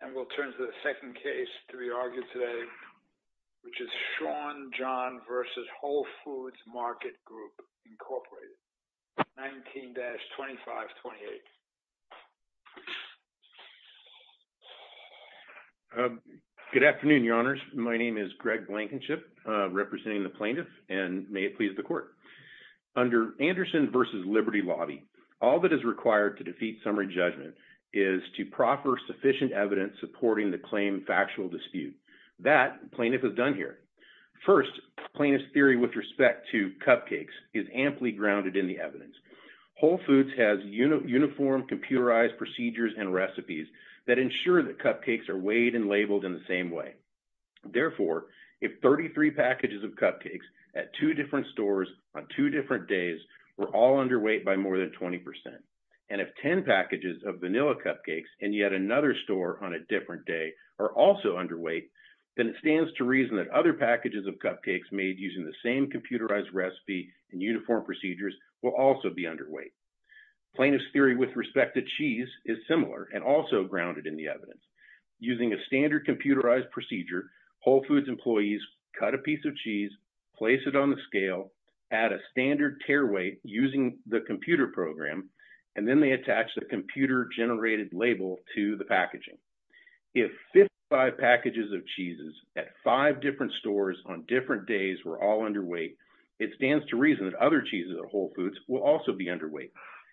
And we'll turn to the second case to be argued today, which is Sean John v. Whole Foods Market Group, Inc., 19-2528. Good afternoon, Your Honors. My name is Greg Blankenship, representing the plaintiff, and may it please the Court. Under Anderson v. Liberty Lobby, all that is required to defeat summary judgment is to proffer sufficient evidence supporting the claim factual dispute. That, plaintiff has done here. First, plaintiff's theory with respect to cupcakes is amply grounded in the evidence. Whole Foods has uniform computerized procedures and recipes that ensure that cupcakes are weighed and labeled in the same way. Therefore, if 33 packages of cupcakes at two different stores on two different days were all underweight by more than 20%, and if 10 packages of vanilla cupcakes in yet another store on a different day are also underweight, then it stands to reason that other packages of cupcakes made using the same computerized recipe and uniform procedures will also be underweight. Plaintiff's theory with respect to cheese is similar and also grounded in the evidence. Using a standard computerized procedure, Whole Foods employees cut a piece of cheese, place it on the scale, add a standard tare weight using the computer program, and then they attach the computer-generated label to the packaging. If 55 packages of cheeses at five different stores on different days were all underweight, it stands to reason that other cheeses at Whole Foods will also be underweight.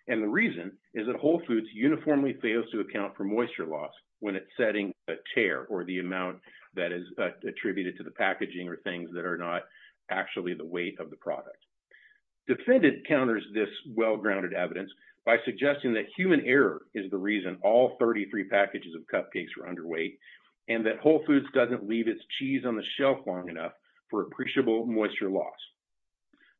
And the reason is that Whole Foods uniformly fails to account for moisture loss when it's setting a tare, or the amount that is attributed to the packaging or things that are not actually the weight of the product. Defendant counters this well-grounded evidence by suggesting that human error is the reason all 33 packages of cupcakes were underweight and that Whole Foods doesn't leave its cheese on the shelf long enough for appreciable moisture loss.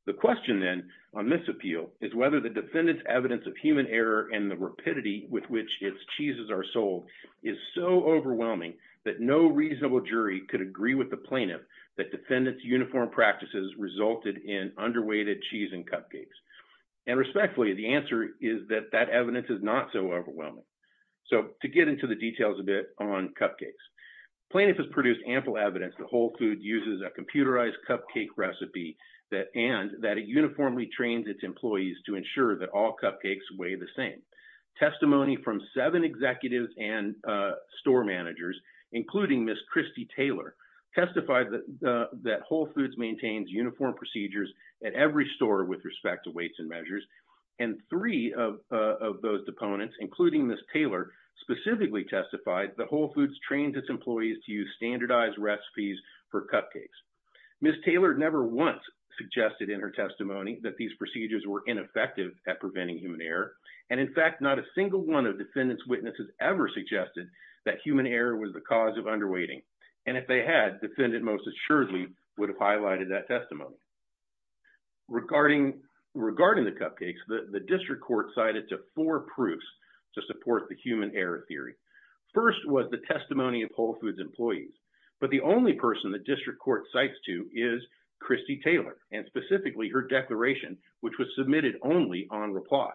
The question then on this appeal is whether the defendant's evidence of human error and the rapidity with which its cheeses are sold is so overwhelming that no reasonable jury could agree with the plaintiff that defendant's uniform practices resulted in underweighted cheese and cupcakes. And respectfully, the answer is that that evidence is not so overwhelming. So to get into the details a bit on cupcakes. Plaintiff has produced ample evidence that Whole Foods uses a computerized cupcake recipe and that it uniformly trains its employees to ensure that all cupcakes weigh the same. Testimony from seven executives and store managers, including Ms. Christy Taylor, testified that Whole Foods maintains uniform procedures at every store with respect to weights and measures. And three of those opponents, including Ms. Taylor, specifically testified that Whole Foods trains its employees to use standardized recipes for cupcakes. Ms. Taylor never once suggested in her testimony that these procedures were ineffective at preventing human error. And in fact, not a single one of defendants' witnesses ever suggested that human error was the cause of underweighting. And if they had, defendant most assuredly would have highlighted that testimony. Regarding the cupcakes, the district court cited to four proofs to support the human error theory. First was the testimony of Whole Foods employees. But the only person the district court cites to is Christy Taylor and specifically her declaration, which was submitted only on reply.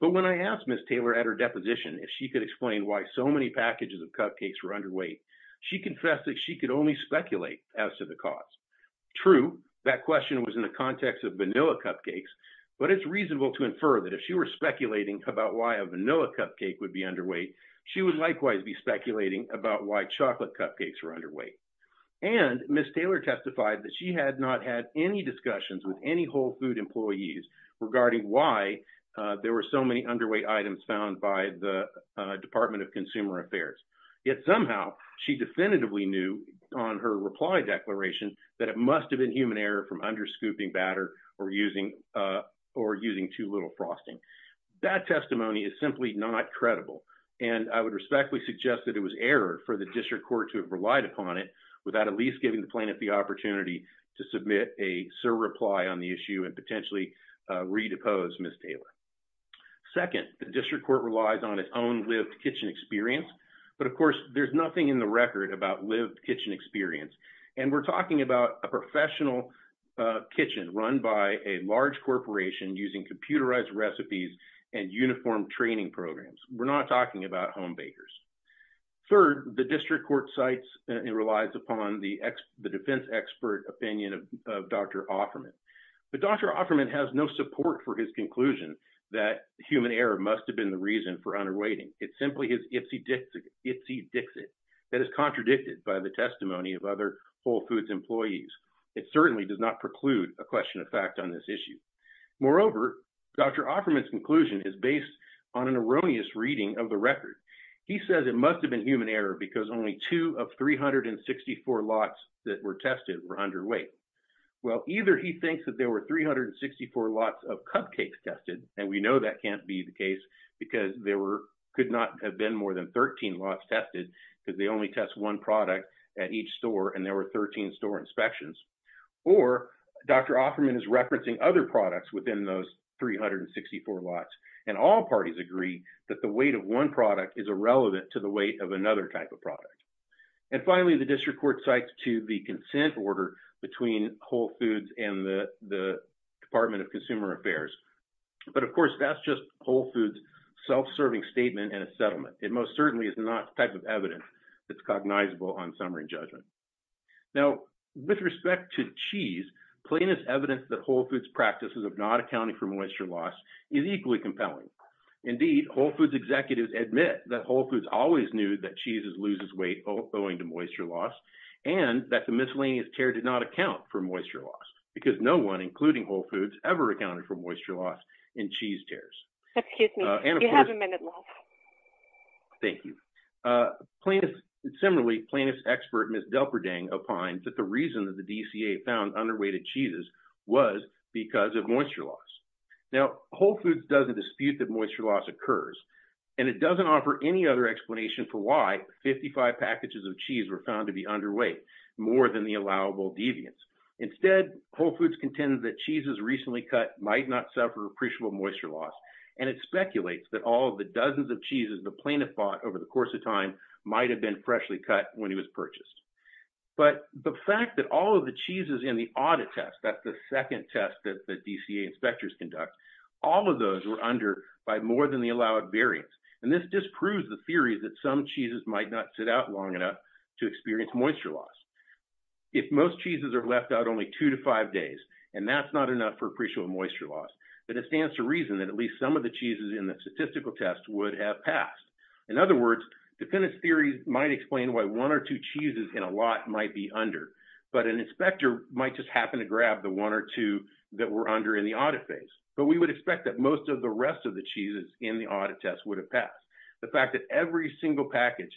But when I asked Ms. Taylor at her deposition if she could explain why so many packages of cupcakes were underweight, she confessed that she could only speculate as to the cause. True, that question was in the context of vanilla cupcakes, but it's reasonable to infer that if she were speculating about why a vanilla cupcake would be underweight, she would likewise be speculating about why chocolate cupcakes were underweight. And Ms. Taylor testified that she had not had any discussions with any Whole Foods employees regarding why there were so many underweight items found by the Department of Consumer Affairs. Yet somehow she definitively knew on her reply declaration that it must have been human error from under scooping batter or using too little frosting. That testimony is simply not credible. And I would respectfully suggest that it was error for the district court to have relied upon it without at least giving the plaintiff the opportunity to submit a surreply on the issue and potentially redepose Ms. Taylor. Second, the district court relies on its own lived kitchen experience. But, of course, there's nothing in the record about lived kitchen experience. And we're talking about a professional kitchen run by a large corporation using computerized recipes and uniformed training programs. We're not talking about home bakers. Third, the district court cites and relies upon the defense expert opinion of Dr. Offerman. But Dr. Offerman has no support for his conclusion that human error must have been the reason for underweighting. It's simply his ipsy dixit that is contradicted by the testimony of other Whole Foods employees. It certainly does not preclude a question of fact on this issue. Moreover, Dr. Offerman's conclusion is based on an erroneous reading of the record. He says it must have been human error because only two of 364 lots that were tested were underweight. Well, either he thinks that there were 364 lots of cupcakes tested. And we know that can't be the case because there could not have been more than 13 lots tested because they only test one product at each store and there were 13 store inspections. Or Dr. Offerman is referencing other products within those 364 lots. And all parties agree that the weight of one product is irrelevant to the weight of another type of product. And finally, the district court cites to the consent order between Whole Foods and the Department of Consumer Affairs. But, of course, that's just Whole Foods' self-serving statement in a settlement. It most certainly is not the type of evidence that's cognizable on summary judgment. Now, with respect to cheese, plain as evidence that Whole Foods' practices of not accounting for moisture loss is equally compelling. Indeed, Whole Foods executives admit that Whole Foods always knew that cheese loses weight owing to moisture loss and that the miscellaneous tear did not account for moisture loss because no one, including Whole Foods, ever accounted for moisture loss in cheese tears. Excuse me, you have a minute left. Thank you. Similarly, plaintiff's expert, Ms. Delperdeng, opines that the reason that the DCA found underweighted cheeses was because of moisture loss. Now, Whole Foods doesn't dispute that moisture loss occurs, and it doesn't offer any other explanation for why 55 packages of cheese were found to be underweight, more than the allowable deviance. Instead, Whole Foods contends that cheeses recently cut might not suffer appreciable moisture loss, and it speculates that all of the dozens of cheeses the plaintiff bought over the course of time might have been freshly cut when he was purchased. But the fact that all of the cheeses in the audit test, that's the second test that the DCA inspectors conduct, all of those were under by more than the allowed variance. And this disproves the theory that some cheeses might not sit out long enough to experience moisture loss. If most cheeses are left out only two to five days, and that's not enough for appreciable moisture loss, then it stands to reason that at least some of the cheeses in the statistical test would have passed. In other words, defendant's theory might explain why one or two cheeses in a lot might be under, but an inspector might just happen to grab the one or two that were under in the audit phase. But we would expect that most of the rest of the cheeses in the audit test would have passed. The fact that every single package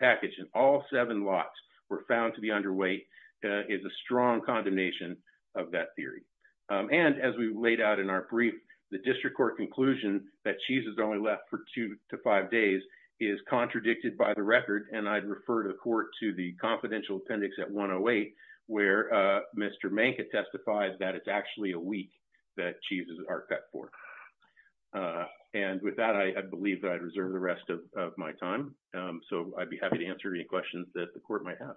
in all seven lots were found to be underweight is a strong condemnation of that theory. And as we laid out in our brief, the district court conclusion that cheeses are only left for two to five days is contradicted by the record. And I'd refer the court to the confidential appendix at 108, where Mr. Manka testified that it's actually a week that cheeses are cut for. And with that, I believe that I'd reserve the rest of my time. So I'd be happy to answer any questions that the court might have.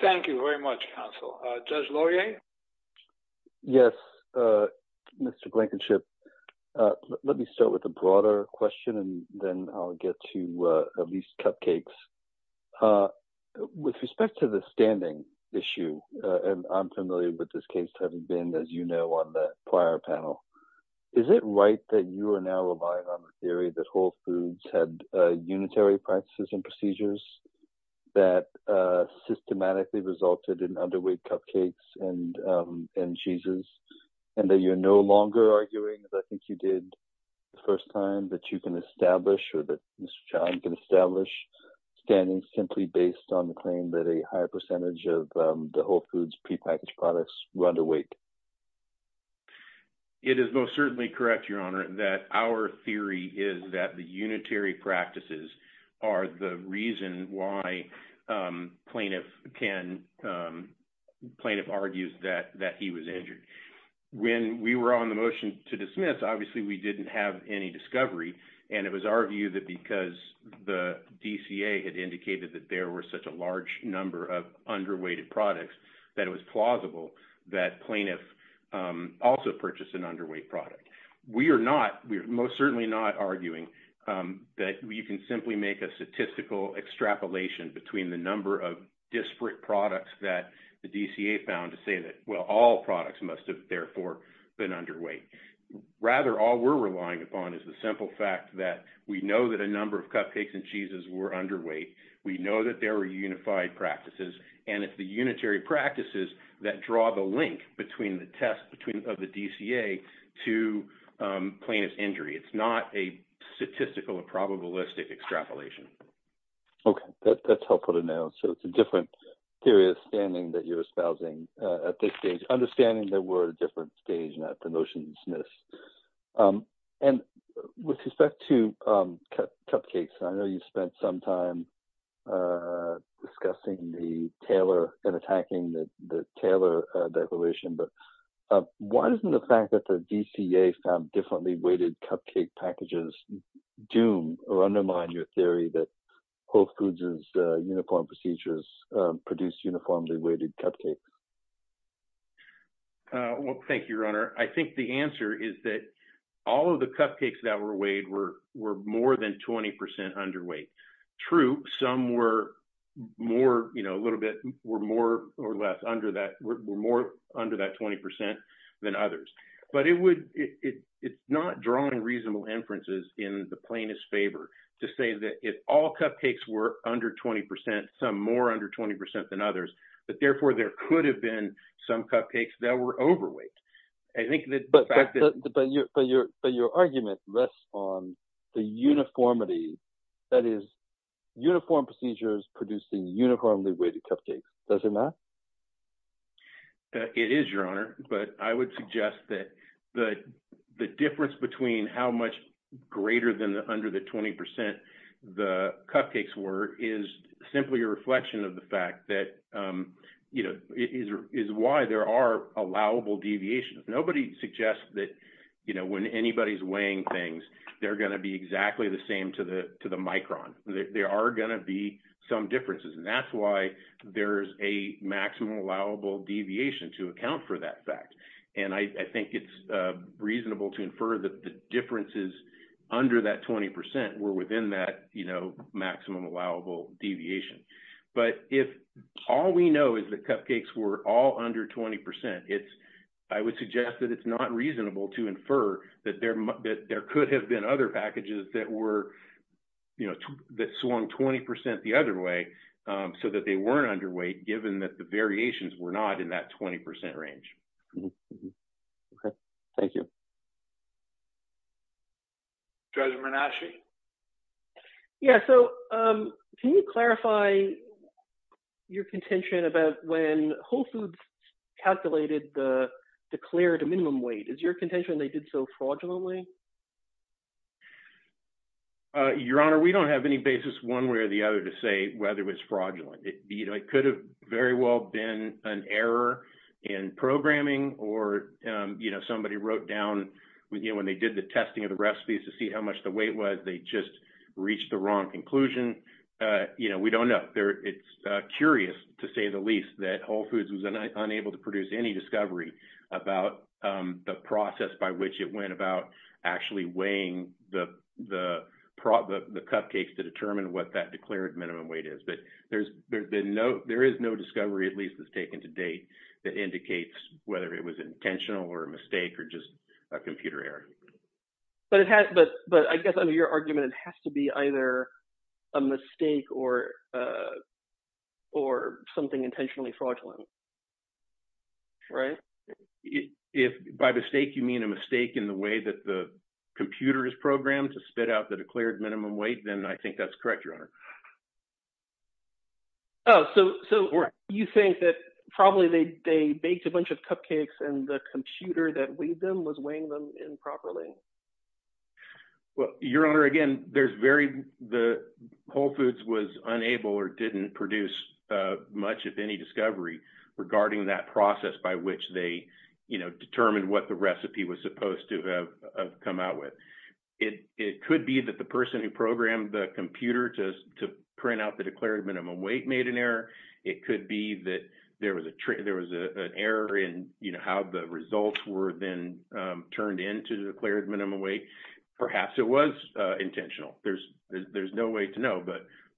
Thank you very much, counsel. Judge Laurier? Yes, Mr. Blankenship. Let me start with a broader question, and then I'll get to at least cupcakes. With respect to the standing issue, and I'm familiar with this case having been, as you know, on the prior panel. Is it right that you are now relying on the theory that Whole Foods had unitary practices and procedures that systematically resulted in underweight cupcakes and cheeses? And that you're no longer arguing, as I think you did the first time, that you can establish or that Mr. John can establish standings simply based on the claim that a higher percentage of the Whole Foods prepackaged products were underweight? It is most certainly correct, Your Honor, that our theory is that the unitary practices are the reason why plaintiff can – plaintiff argues that he was injured. When we were on the motion to dismiss, obviously we didn't have any discovery, and it was our view that because the DCA had indicated that there were such a large number of underweighted products that it was plausible that plaintiff also purchased an underweight product. We are not – we are most certainly not arguing that you can simply make a statistical extrapolation between the number of disparate products that the DCA found to say that, well, all products must have, therefore, been underweight. Rather, all we're relying upon is the simple fact that we know that a number of cupcakes and cheeses were underweight, we know that there were unified practices, and it's the unitary practices that draw the link between the test of the DCA to plaintiff's injury. It's not a statistical or probabilistic extrapolation. Okay, that's helpful to know. So it's a different theory of standing that you're espousing at this stage, understanding that we're at a different stage now at the motion to dismiss. And with respect to cupcakes, I know you spent some time discussing the Taylor – and attacking the Taylor declaration, but why doesn't the fact that the DCA found differently weighted cupcake packages doom or undermine your theory that Whole Foods' uniform procedures produce uniformly weighted cupcakes? Well, thank you, Your Honor. I think the answer is that all of the cupcakes that were weighed were more than 20 percent underweight. True, some were more, you know, a little bit – were more or less under that – were more under that 20 percent than others. But it would – it's not drawing reasonable inferences in the plaintiff's favor to say that if all cupcakes were under 20 percent, some more under 20 percent than others, that, therefore, there could have been some cupcakes that were overweight. I think the fact that – But your argument rests on the uniformity, that is, uniform procedures producing uniformly weighted cupcakes. Does it not? It is, Your Honor, but I would suggest that the difference between how much greater than the – under the 20 percent the cupcakes were is simply a reflection of the fact that, you know, is why there are allowable deviations. Nobody suggests that, you know, when anybody's weighing things, they're going to be exactly the same to the micron. There are going to be some differences, and that's why there's a maximum allowable deviation to account for that fact. And I think it's reasonable to infer that the differences under that 20 percent were within that, you know, maximum allowable deviation. But if all we know is that cupcakes were all under 20 percent, it's – I would suggest that it's not reasonable to infer that there could have been other packages that were, you know, that swung 20 percent the other way so that they weren't underweight, given that the variations were not in that 20 percent range. Okay. Thank you. Judge Menache? Yeah, so can you clarify your contention about when Whole Foods calculated the declared minimum weight? Is your contention they did so fraudulently? Your Honor, we don't have any basis one way or the other to say whether it was fraudulent. It could have very well been an error in programming or, you know, somebody wrote down, you know, when they did the testing of the recipes to see how much the weight was, they just reached the wrong conclusion. You know, we don't know. It's curious, to say the least, that Whole Foods was unable to produce any discovery about the process by which it went about actually weighing the cupcakes to determine what that declared minimum weight is. But there is no discovery, at least as taken to date, that indicates whether it was intentional or a mistake or just a computer error. But I guess under your argument, it has to be either a mistake or something intentionally fraudulent, right? If by mistake you mean a mistake in the way that the computer is programmed to spit out the declared minimum weight, then I think that's correct, Your Honor. Oh, so you think that probably they baked a bunch of cupcakes and the computer that weighed them was weighing them in properly? Well, Your Honor, again, there's very – Whole Foods was unable or didn't produce much of any discovery regarding that process by which they, you know, determined what the recipe was supposed to have come out with. It could be that the person who programmed the computer to print out the declared minimum weight made an error. It could be that there was an error in, you know, how the results were then turned into declared minimum weight. Perhaps it was intentional. There's no way to know.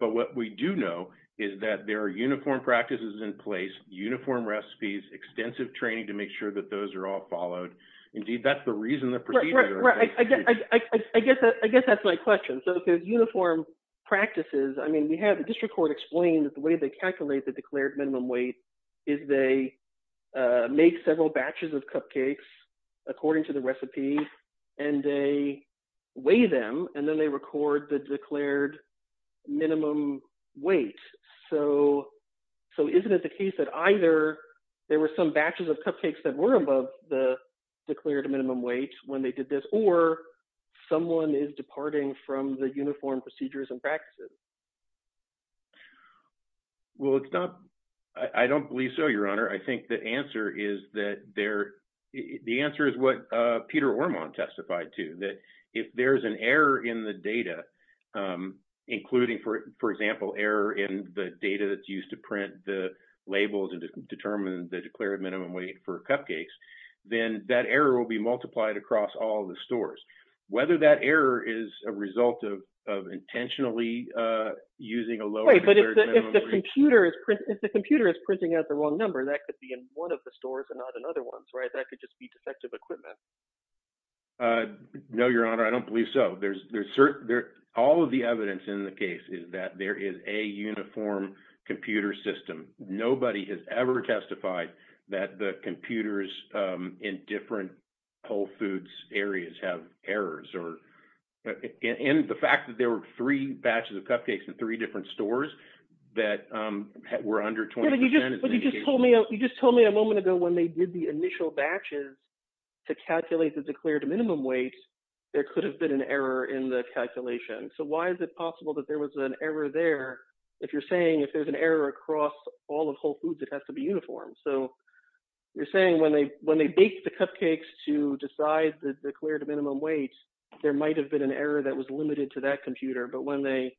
But what we do know is that there are uniform practices in place, uniform recipes, extensive training to make sure that those are all followed. Indeed, that's the reason the procedure – Right, right. I guess that's my question. So if there's uniform practices – I mean we have – the district court explained that the way they calculate the declared minimum weight is they make several batches of cupcakes according to the recipe, and they weigh them. And then they record the declared minimum weight. So isn't it the case that either there were some batches of cupcakes that were above the declared minimum weight when they did this, or someone is departing from the uniform procedures and practices? Well, it's not – I don't believe so, Your Honor. I think the answer is that there – the answer is what Peter Ormon testified to, that if there's an error in the data, including, for example, error in the data that's used to print the labels and determine the declared minimum weight for cupcakes, then that error will be multiplied across all the stores. Whether that error is a result of intentionally using a lower declared minimum weight – Wait, but if the computer is printing out the wrong number, that could be in one of the stores and not in other ones, right? That could just be defective equipment. No, Your Honor. I don't believe so. All of the evidence in the case is that there is a uniform computer system. Nobody has ever testified that the computers in different Whole Foods areas have errors. And the fact that there were three batches of cupcakes in three different stores that were under 20% – Yeah, but you just told me a moment ago when they did the initial batches to calculate the declared minimum weight, there could have been an error in the calculation. So why is it possible that there was an error there if you're saying if there's an error across all of Whole Foods, it has to be uniform? So you're saying when they baked the cupcakes to decide the declared minimum weight, there might have been an error that was limited to that computer, but when they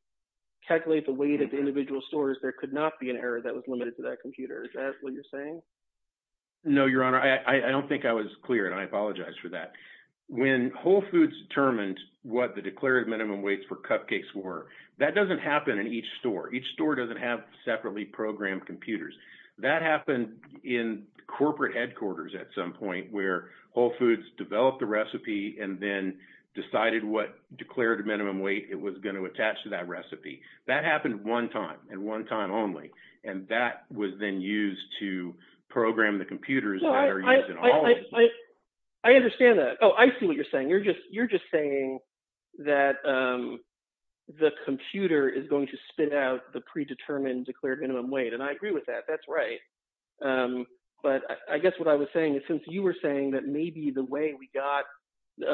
calculate the weight at the individual stores, there could not be an error that was limited to that computer. Is that what you're saying? No, Your Honor. I don't think I was clear, and I apologize for that. When Whole Foods determined what the declared minimum weights for cupcakes were, that doesn't happen in each store. Each store doesn't have separately programmed computers. That happened in corporate headquarters at some point where Whole Foods developed the recipe and then decided what declared minimum weight it was going to attach to that recipe. That happened one time and one time only, and that was then used to program the computers that are used in all of the stores. But I guess what I was saying is since you were saying that maybe the way we got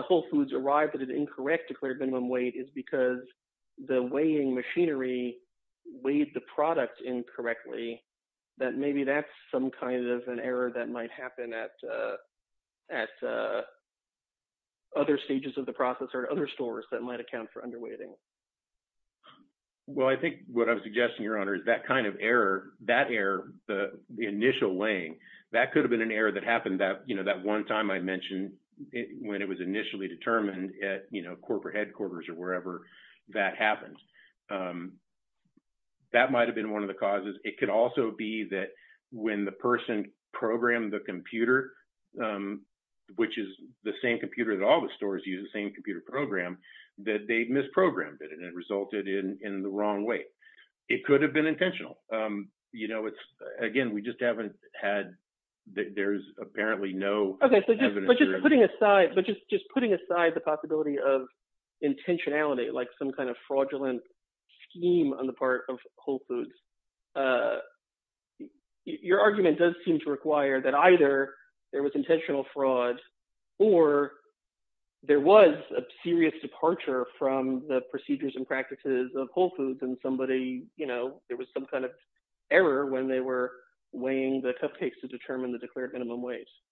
Whole Foods arrived at an incorrect declared minimum weight is because the weighing machinery weighed the product incorrectly, that maybe that's some kind of an error that might happen at other stages of the process or other stores that might account for underweighting. Well, I think what I'm suggesting, Your Honor, is that kind of error, that error, the initial weighing, that could have been an error that happened that one time I mentioned when it was initially determined at corporate headquarters or wherever that happened. That might have been one of the causes. It could also be that when the person programmed the computer, which is the same computer that all the stores use, the same computer program, that they misprogrammed it and it resulted in the wrong weight. It could have been intentional. Again, we just haven't had – there's apparently no evidence. But just putting aside the possibility of intentionality, like some kind of fraudulent scheme on the part of Whole Foods, your argument does seem to require that either there was intentional fraud or there was a serious departure from the procedures and practices of Whole Foods and somebody –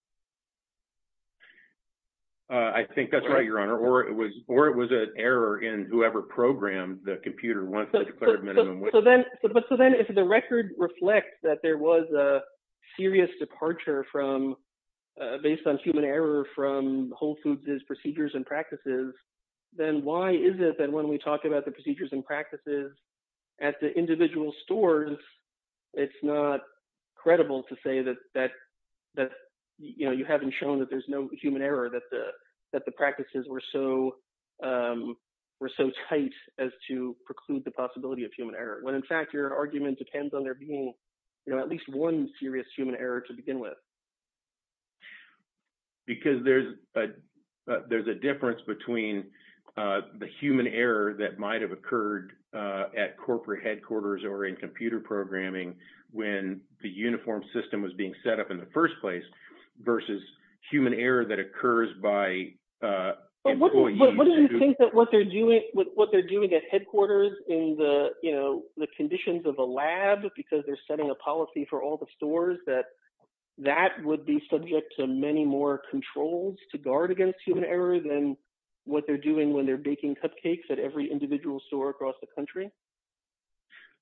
I think that's right, Your Honor. Or it was an error in whoever programmed the computer once they declared minimum weight. So then if the record reflects that there was a serious departure from – based on human error from Whole Foods' procedures and practices, then why is it that when we talk about the procedures and practices at the individual stores, it's not credible to say that you haven't shown that there's no human error, that the practices were so tight as to preclude the possibility of human error? When, in fact, your argument depends on there being at least one serious human error to begin with. Because there's a difference between the human error that might have occurred at corporate headquarters or in computer programming when the uniform system was being set up in the first place versus human error that occurs by employees. What do you think that what they're doing at headquarters in the conditions of a lab because they're setting a policy for all the stores, that that would be subject to many more controls to guard against human error than what they're doing when they're baking cupcakes at every individual store across the country?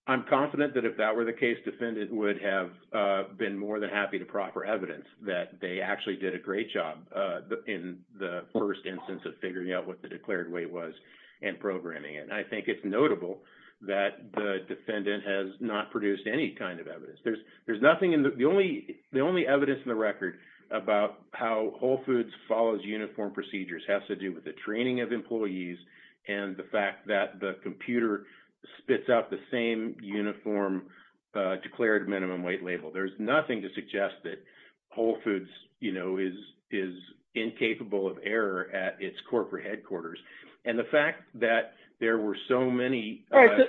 I'm confident that if that were the case, defendant would have been more than happy to proffer evidence that they actually did a great job in the first instance of figuring out what the declared weight was and programming it. And I think it's notable that the defendant has not produced any kind of evidence. There's nothing in the – the only evidence in the record about how Whole Foods follows uniform procedures has to do with the training of employees and the fact that the computer spits out the same uniform declared minimum weight label. There's nothing to suggest that Whole Foods is incapable of error at its corporate headquarters. And the fact that there were so many errors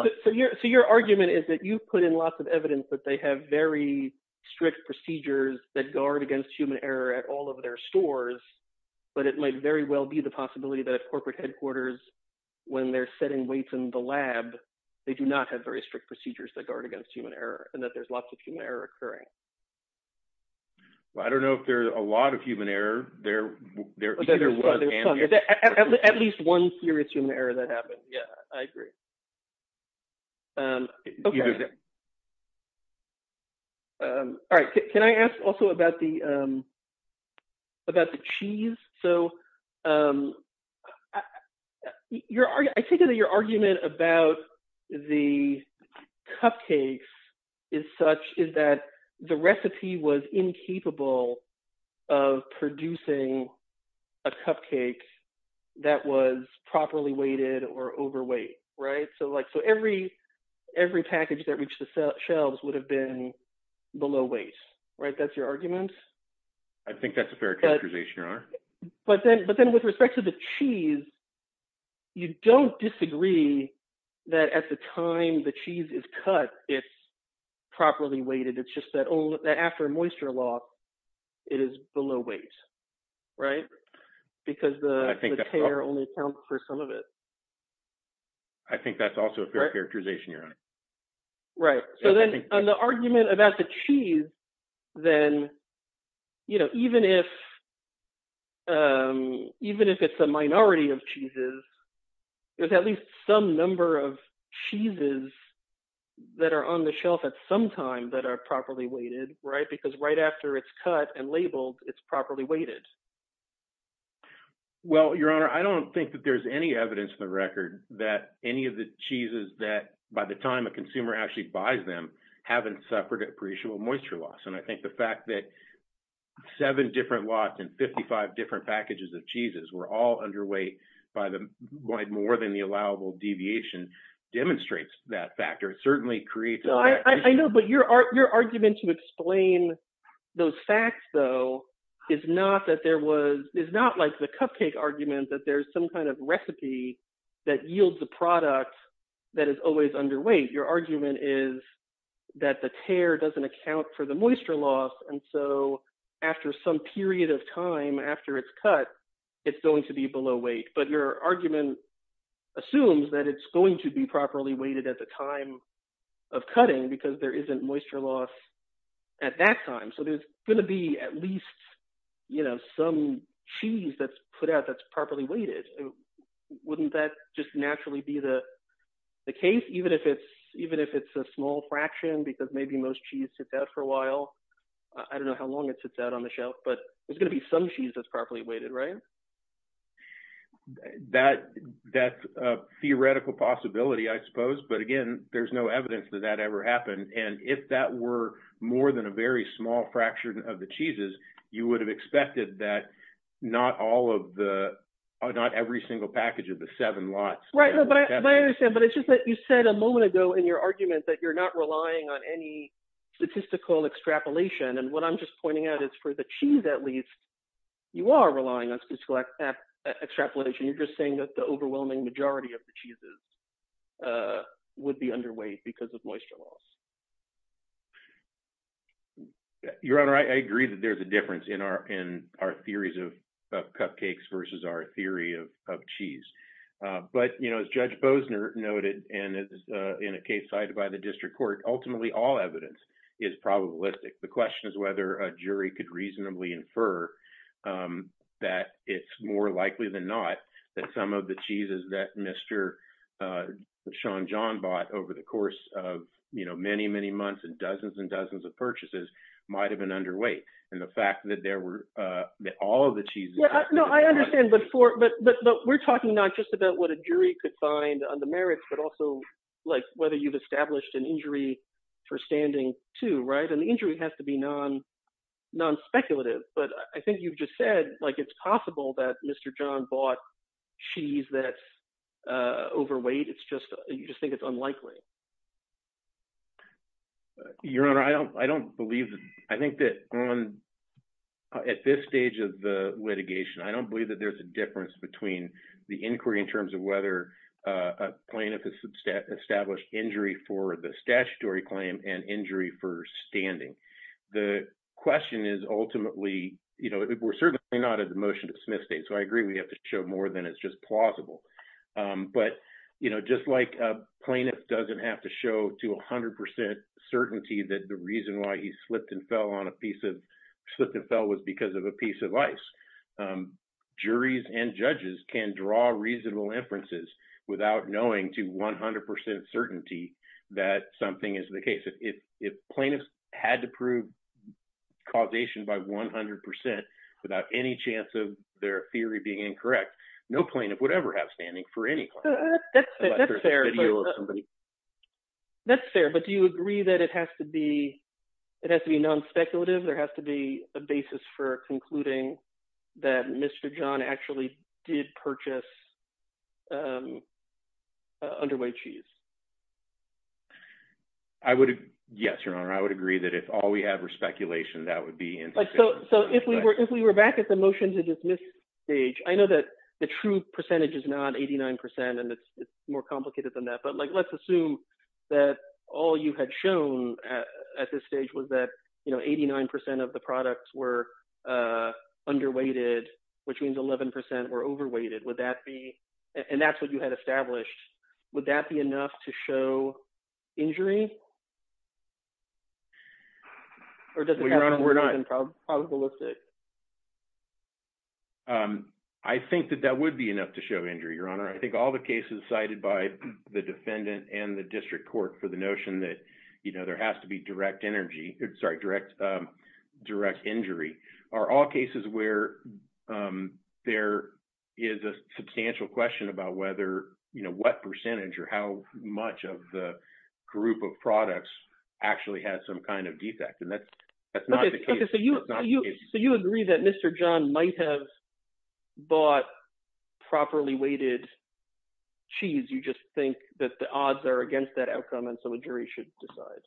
– So your argument is that you put in lots of evidence that they have very strict procedures that guard against human error at all of their stores, but it might very well be the possibility that at corporate headquarters, when they're setting weights in the lab, they do not have very strict procedures that guard against human error and that there's lots of human error occurring. Well, I don't know if there's a lot of human error. There – There's at least one serious human error that happened. Yeah, I agree. Okay. All right. Can I ask also about the – about the cheese? So I take it that your argument about the cupcakes is such is that the recipe was incapable of producing a cupcake that was properly weighted or overweight, right? So like – so every package that reached the shelves would have been below weight, right? That's your argument? I think that's a fair characterization, Your Honor. But then with respect to the cheese, you don't disagree that at the time the cheese is cut, it's properly weighted. It's just that after a moisture lock, it is below weight, right? Because the tear only accounts for some of it. I think that's also a fair characterization, Your Honor. Right. So then on the argument about the cheese, then even if it's a minority of cheeses, there's at least some number of cheeses that are on the shelf at some time that are properly weighted, right? Because right after it's cut and labeled, it's properly weighted. Well, Your Honor, I don't think that there's any evidence in the record that any of the cheeses that by the time a consumer actually buys them haven't suffered a periodical moisture loss. And I think the fact that seven different lots and 55 different packages of cheeses were all underweight by more than the allowable deviation demonstrates that factor. It certainly creates – I know, but your argument to explain those facts, though, is not like the cupcake argument that there's some kind of recipe that yields a product that is always underweight. Your argument is that the tear doesn't account for the moisture loss, and so after some period of time after it's cut, it's going to be below weight. But your argument assumes that it's going to be properly weighted at the time of cutting because there isn't moisture loss at that time. So there's going to be at least some cheese that's put out that's properly weighted. Wouldn't that just naturally be the case, even if it's a small fraction because maybe most cheese sits out for a while? I don't know how long it sits out on the shelf, but there's going to be some cheese that's properly weighted, right? That's a theoretical possibility, I suppose, but again, there's no evidence that that ever happened. And if that were more than a very small fraction of the cheeses, you would have expected that not all of the – not every single package of the seven lots – I understand, but it's just that you said a moment ago in your argument that you're not relying on any statistical extrapolation. And what I'm just pointing out is for the cheese, at least, you are relying on statistical extrapolation. You're just saying that the overwhelming majority of the cheeses would be underweight because of moisture loss. Your Honor, I agree that there's a difference in our theories of cupcakes versus our theory of cheese. But as Judge Bosner noted in a case cited by the district court, ultimately all evidence is probabilistic. The question is whether a jury could reasonably infer that it's more likely than not that some of the cheeses that Mr. Sean John bought over the course of many, many months and dozens and dozens of purchases might have been underweight. And the fact that all of the cheeses – No, I understand, but we're talking not just about what a jury could find on the merits, but also whether you've established an injury for standing too. And the injury has to be nonspeculative. But I think you've just said it's possible that Mr. John bought cheese that's overweight. You just think it's unlikely. Your Honor, I don't believe – I think that at this stage of the litigation, I don't believe that there's a difference between the inquiry in terms of whether a plaintiff has established injury for the statutory claim and injury for standing. The question is ultimately – we're certainly not at a motion to dismiss state, so I agree we have to show more than is just plausible. But just like a plaintiff doesn't have to show to 100 percent certainty that the reason why he slipped and fell on a piece of – slipped and fell was because of a piece of ice, juries and judges can draw reasonable inferences without knowing to 100 percent certainty that something is the case. If plaintiffs had to prove causation by 100 percent without any chance of their theory being incorrect, no plaintiff would ever have standing for any claim. That's fair, but do you agree that it has to be nonspeculative? There has to be a basis for concluding that Mr. John actually did purchase underweight cheese? I would – yes, Your Honor. I would agree that if all we have is speculation, that would be insufficient. So if we were back at the motion to dismiss stage, I know that the true percentage is not 89 percent, and it's more complicated than that. But let's assume that all you had shown at this stage was that 89 percent of the products were underweighted, which means 11 percent were overweighted. Would that be – and that's what you had established. Would that be enough to show injury? Or does it have to be more than probabilistic? I think that that would be enough to show injury, Your Honor. I think all the cases cited by the defendant and the district court for the notion that there has to be direct energy – sorry, direct injury are all cases where there is a substantial question about whether – what percentage or how much of the group of products actually has some kind of defect. And that's not the case. So you agree that Mr. John might have bought properly weighted cheese. You just think that the odds are against that outcome, and so a jury should decide.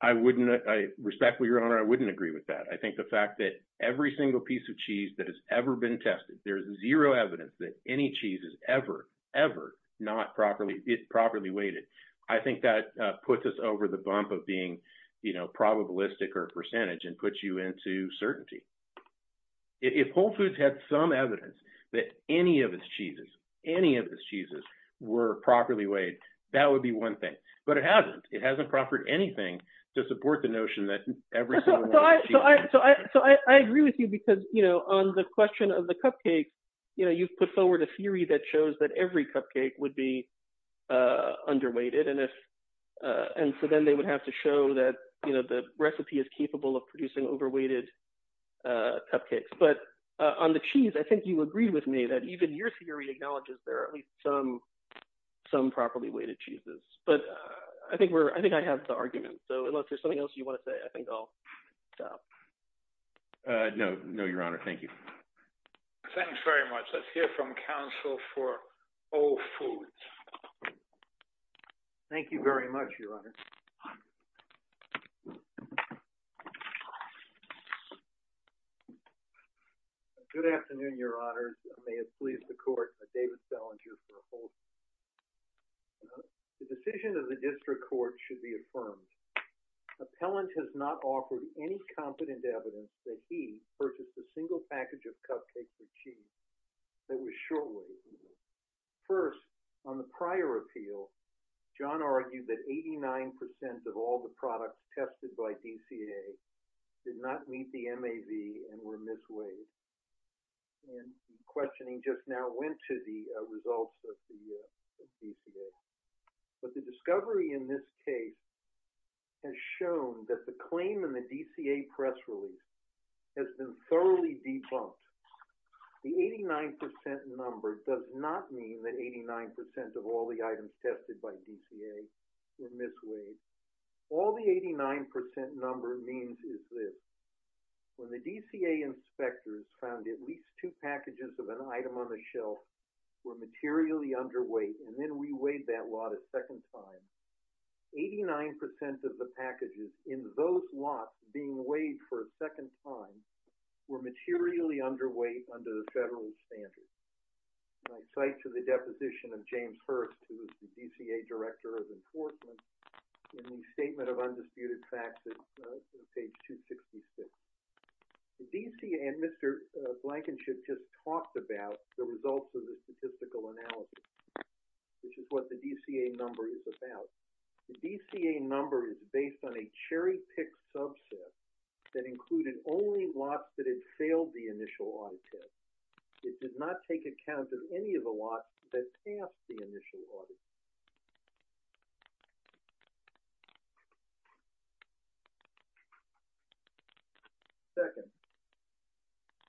I wouldn't – respectfully, Your Honor, I wouldn't agree with that. I think the fact that every single piece of cheese that has ever been tested – there is zero evidence that any cheese is ever, ever not properly weighted. I think that puts us over the bump of being probabilistic or percentage and puts you into certainty. If Whole Foods had some evidence that any of its cheeses, any of its cheeses were properly weighed, that would be one thing. But it hasn't. It hasn't proffered anything to support the notion that every single one of the cheeses – And so then they would have to show that the recipe is capable of producing over-weighted cupcakes. But on the cheese, I think you agreed with me that even your theory acknowledges there are at least some properly weighted cheeses. But I think we're – I think I have the argument. So unless there's something else you want to say, I think I'll stop. No, Your Honor. Thank you. Thanks very much. Let's hear from counsel for Whole Foods. Thank you very much, Your Honor. Good afternoon, Your Honor. May it please the court that David Salinger for Whole Foods. The decision of the district court should be affirmed. Appellant has not offered any competent evidence that he purchased a single package of cupcakes with cheese that was short-weighted. First, on the prior appeal, John argued that 89% of all the products tested by DCA did not meet the MAV and were misweighed. And the questioning just now went to the results of the DCA. But the discovery in this case has shown that the claim in the DCA press release has been thoroughly debunked. The 89% number does not mean that 89% of all the items tested by DCA were misweighed. All the 89% number means is this. When the DCA inspectors found at least two packages of an item on the shelf were materially underweight, and then reweighed that lot a second time, 89% of the packages in those lots being weighed for a second time were materially underweight under the federal standards. I cite to the deposition of James Hurst, who is the DCA Director of Enforcement, in the Statement of Undisputed Facts at page 266. The DCA and Mr. Blankenship just talked about the results of the statistical analysis, which is what the DCA number is about. The DCA number is based on a cherry-picked subset that included only lots that had failed the initial audit test. It did not take account of any of the lots that passed the initial audit. Second,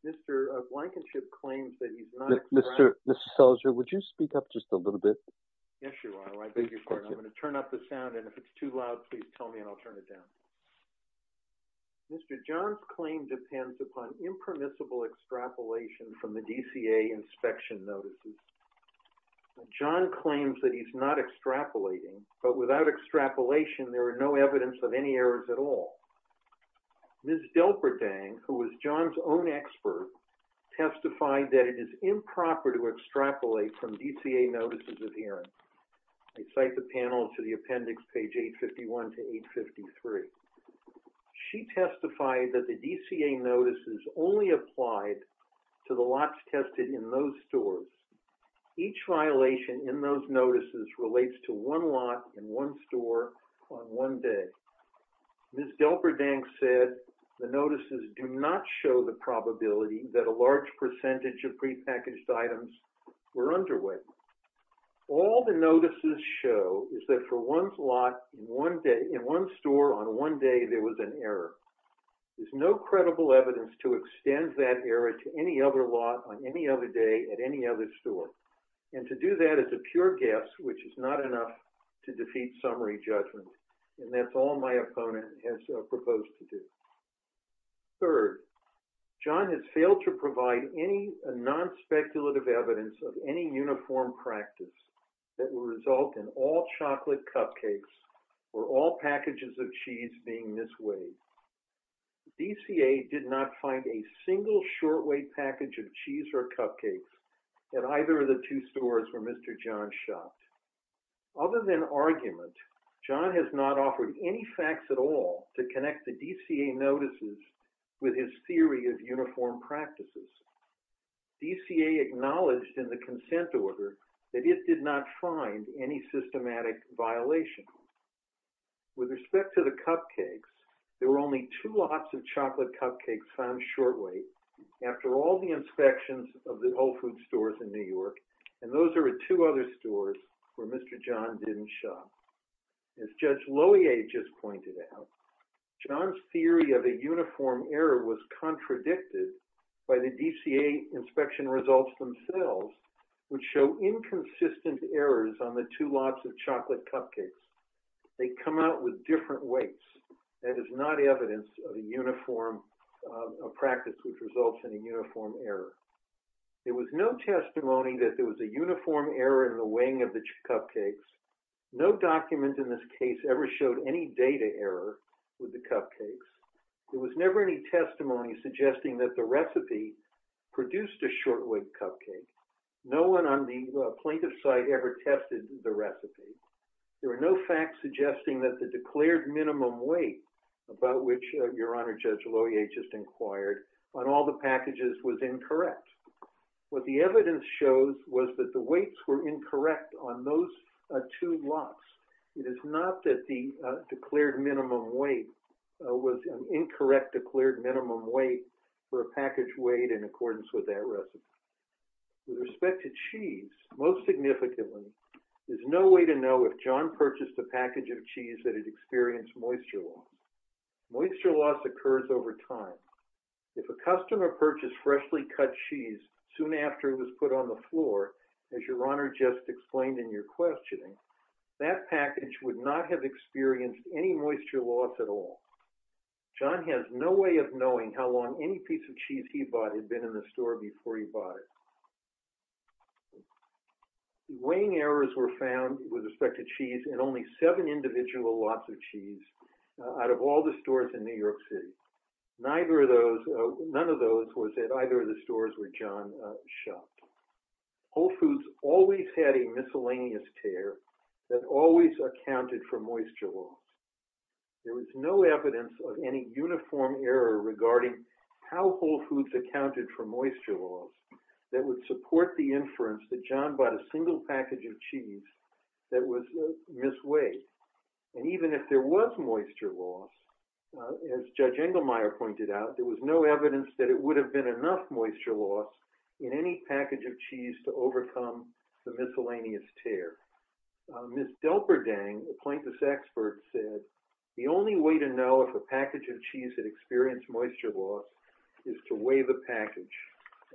Mr. Blankenship claims that he's not... Mr. Selzer, would you speak up just a little bit? Yes, you are. I beg your pardon. I'm going to turn up the sound, and if it's too loud, please tell me, and I'll turn it down. Mr. John's claim depends upon impermissible extrapolation from the DCA inspection notices. John claims that he's not extrapolating, but without extrapolation, there is no evidence of any errors at all. Ms. Delperdang, who was John's own expert, testified that it is improper to extrapolate from DCA notices of hearing. I cite the panel to the appendix, page 851 to 853. She testified that the DCA notices only applied to the lots tested in those stores. Each violation in those notices relates to one lot in one store on one day. Ms. Delperdang said the notices do not show the probability that a large percentage of prepackaged items were underway. All the notices show is that for one lot in one store on one day, there was an error. There's no credible evidence to extend that error to any other lot on any other day at any other store. And to do that is a pure guess, which is not enough to defeat summary judgment. And that's all my opponent has proposed to do. Third, John has failed to provide any non-speculative evidence of any uniform practice that will result in all chocolate cupcakes or all packages of cheese being this way. The DCA did not find a single shortweight package of cheese or cupcakes at either of the two stores where Mr. John shot. Other than argument, John has not offered any facts at all to connect the DCA notices with his theory of uniform practices. DCA acknowledged in the consent order that it did not find any systematic violation. With respect to the cupcakes, there were only two lots of chocolate cupcakes found shortweight after all the inspections of the Whole Foods stores in New York. And those are at two other stores where Mr. John didn't shop. As Judge Lohier just pointed out, John's theory of a uniform error was contradicted by the DCA inspection results themselves, which show inconsistent errors on the two lots of chocolate cupcakes. They come out with different weights. That is not evidence of a uniform practice which results in a uniform error. There was no testimony that there was a uniform error in the weighing of the cupcakes. No document in this case ever showed any data error with the cupcakes. There was never any testimony suggesting that the recipe produced a shortweight cupcake. No one on the plaintiff's side ever tested the recipe. There were no facts suggesting that the declared minimum weight, about which Your Honor Judge Lohier just inquired, on all the packages was incorrect. What the evidence shows was that the weights were incorrect on those two lots. It is not that the declared minimum weight was an incorrect declared minimum weight for a package weighed in accordance with that recipe. With respect to cheese, most significantly, there's no way to know if John purchased a package of cheese that had experienced moisture loss. Moisture loss occurs over time. If a customer purchased freshly cut cheese soon after it was put on the floor, as Your Honor just explained in your questioning, that package would not have experienced any moisture loss at all. John has no way of knowing how long any piece of cheese he bought had been in the store before he bought it. Weighing errors were found with respect to cheese in only seven individual lots of cheese out of all the stores in New York City. None of those was at either of the stores where John shopped. Whole Foods always had a miscellaneous tare that always accounted for moisture loss. There was no evidence of any uniform error regarding how Whole Foods accounted for moisture loss that would support the inference that John bought a single package of cheese that was misweighed. And even if there was moisture loss, as Judge Engelmeyer pointed out, there was no evidence that it would have been enough moisture loss in any package of cheese to overcome the miscellaneous tare. Ms. Delperdang, a plaintiff's expert, said, the only way to know if a package of cheese had experienced moisture loss is to weigh the package.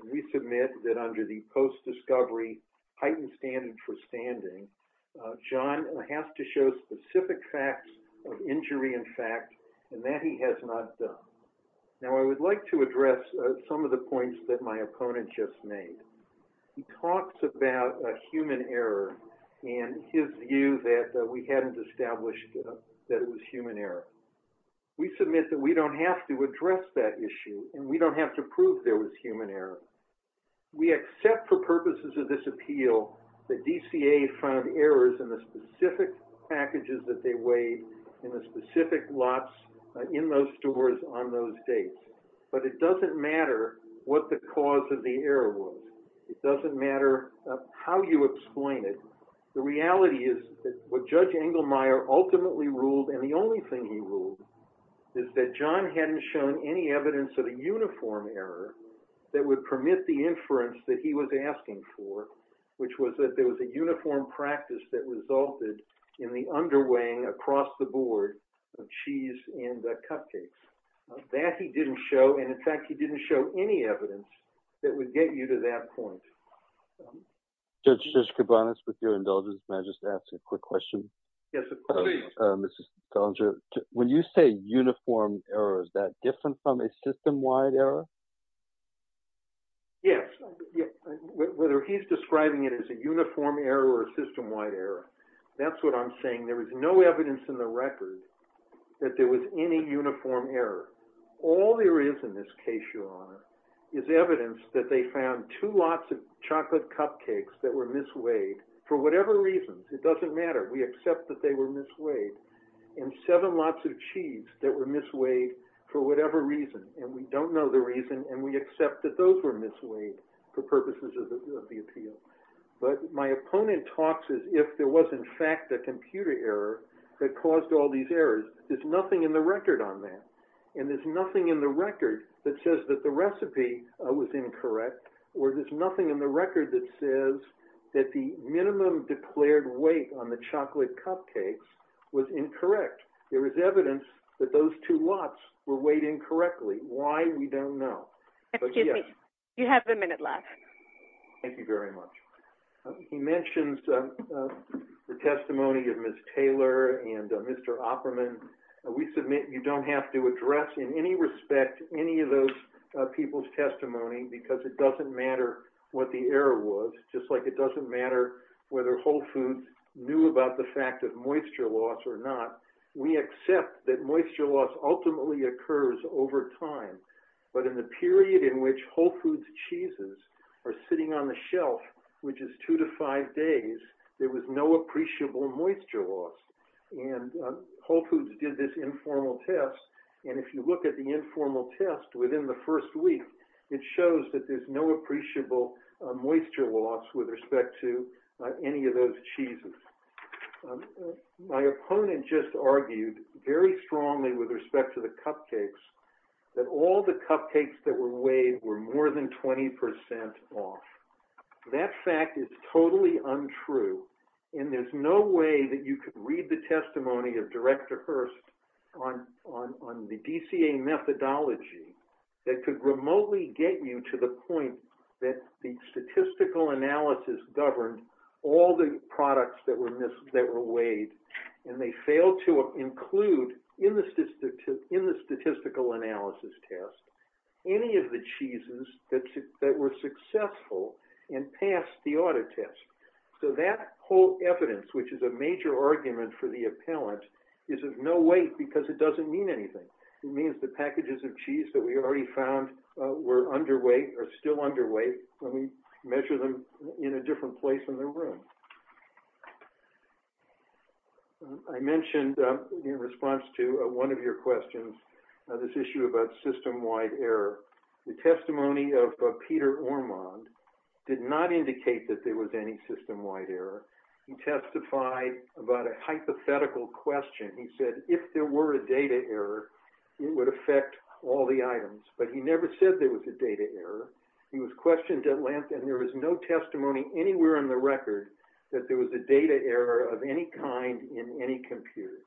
And we submit that under the post-discovery heightened standard for standing, John has to show specific facts of injury in fact, and that he has not done. Now I would like to address some of the points that my opponent just made. He talks about human error and his view that we hadn't established that it was human error. We submit that we don't have to address that issue and we don't have to prove there was human error. We accept for purposes of this appeal that DCA found errors in the specific packages that they weighed in the specific lots in those stores on those dates. But it doesn't matter what the cause of the error was. It doesn't matter how you explain it. The reality is that what Judge Engelmeyer ultimately ruled, and the only thing he ruled, is that John hadn't shown any evidence of a uniform error that would permit the inference that he was asking for, which was that there was a uniform practice that resulted in the underweighing across the board of cheese and cupcakes. That he didn't show, and in fact, he didn't show any evidence that would get you to that point. Judge Koubanas, with your indulgence, may I just ask a quick question? Yes, of course. When you say uniform error, is that different from a system-wide error? Yes. Whether he's describing it as a uniform error or a system-wide error, that's what I'm saying. There is no evidence in the record that there was any uniform error. All there is in this case, Your Honor, is evidence that they found two lots of chocolate cupcakes that were misweighed for whatever reason. It doesn't matter. We accept that they were misweighed. And seven lots of cheese that were misweighed for whatever reason. And we don't know the reason, and we accept that those were misweighed for purposes of the appeal. But my opponent talks as if there was, in fact, a computer error that caused all these errors. There's nothing in the record on that. And there's nothing in the record that says that the recipe was incorrect. Or there's nothing in the record that says that the minimum declared weight on the chocolate cupcakes was incorrect. There is evidence that those two lots were weighed incorrectly. Why, we don't know. Excuse me. You have a minute left. Thank you very much. He mentions the testimony of Ms. Taylor and Mr. Opperman. We submit you don't have to address in any respect any of those people's testimony because it doesn't matter what the error was. Just like it doesn't matter whether Whole Foods knew about the fact of moisture loss or not. We accept that moisture loss ultimately occurs over time. But in the period in which Whole Foods cheeses are sitting on the shelf, which is two to five days, there was no appreciable moisture loss. And Whole Foods did this informal test. And if you look at the informal test within the first week, it shows that there's no appreciable moisture loss with respect to any of those cheeses. My opponent just argued very strongly with respect to the cupcakes that all the cupcakes that were weighed were more than 20 percent off. That fact is totally untrue. And there's no way that you could read the testimony of Director Hurst on the DCA methodology that could remotely get you to the point that the statistical analysis governed all the products that were weighed and they failed to include in the statistical analysis test any of the cheeses that were successful and passed the audit test. So that whole evidence, which is a major argument for the appellant, is of no weight because it doesn't mean anything. It means the packages of cheese that we already found were underweight or still underweight when we measure them in a different place in the room. I mentioned in response to one of your questions this issue about system-wide error. The testimony of Peter Ormond did not indicate that there was any system-wide error. He testified about a hypothetical question. He said if there were a data error, it would affect all the items. But he never said there was a data error. He was questioned at length and there was no testimony anywhere in the record that there was a data error of any kind in any computer.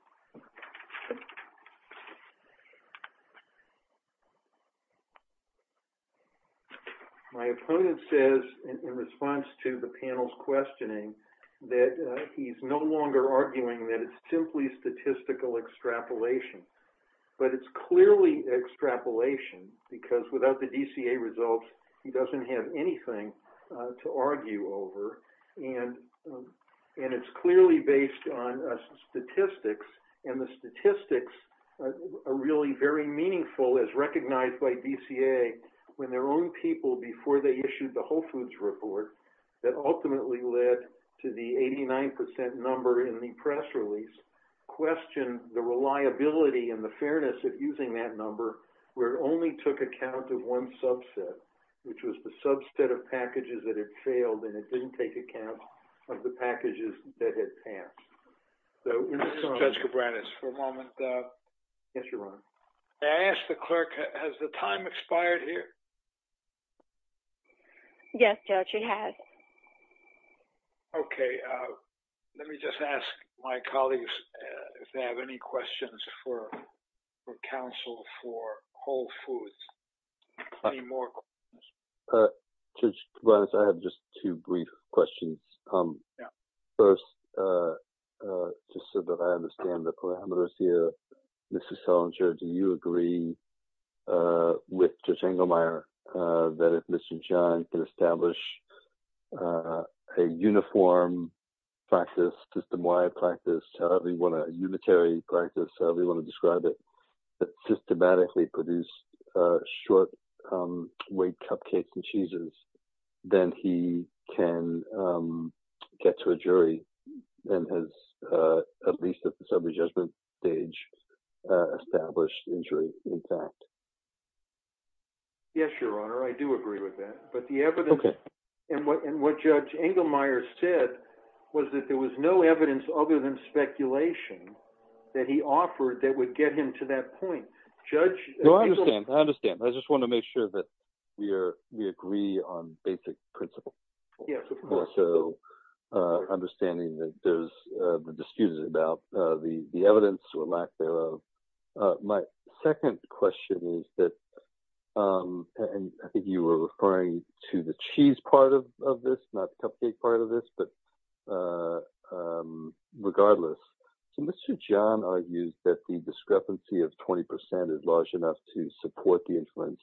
My opponent says in response to the panel's questioning that he's no longer arguing that it's simply statistical extrapolation. But it's clearly extrapolation because without the DCA results, he doesn't have anything to argue over. And it's clearly based on statistics. And the statistics are really very meaningful as recognized by DCA when their own people, before they issued the Whole Foods report, that ultimately led to the 89% number in the press release, questioned the reliability and the fairness of using that number where it only took account of one subset, which was the subset of packages that had failed and it didn't take account of the packages that had passed. So, we're just going to- Judge Cabranes, for a moment. Yes, Your Honor. May I ask the clerk, has the time expired here? Yes, Judge, it has. Okay. Let me just ask my colleagues if they have any questions for counsel for Whole Foods. Any more questions? Judge Cabranes, I have just two brief questions. First, just so that I understand the parameters here, Mr. Selinger, do you agree with Judge Engelmeyer that if Mr. John can establish a uniform practice, system-wide practice, a unitary practice, however you want to describe it, that systematically produced short-weight cupcakes and cheeses, then he can get to a jury and has, at least at the sub-adjustment stage, established injury in fact? Yes, Your Honor, I do agree with that. Okay. And what Judge Engelmeyer said was that there was no evidence other than speculation that he offered that would get him to that point. No, I understand. I understand. I just want to make sure that we agree on basic principles. Yes, of course. Understanding that there's the discussion about the evidence or lack thereof. My second question is that, and I think you were referring to the cheese part of this, not the cupcake part of this, but regardless, so Mr. John argues that the discrepancy of 20% is large enough to support the inference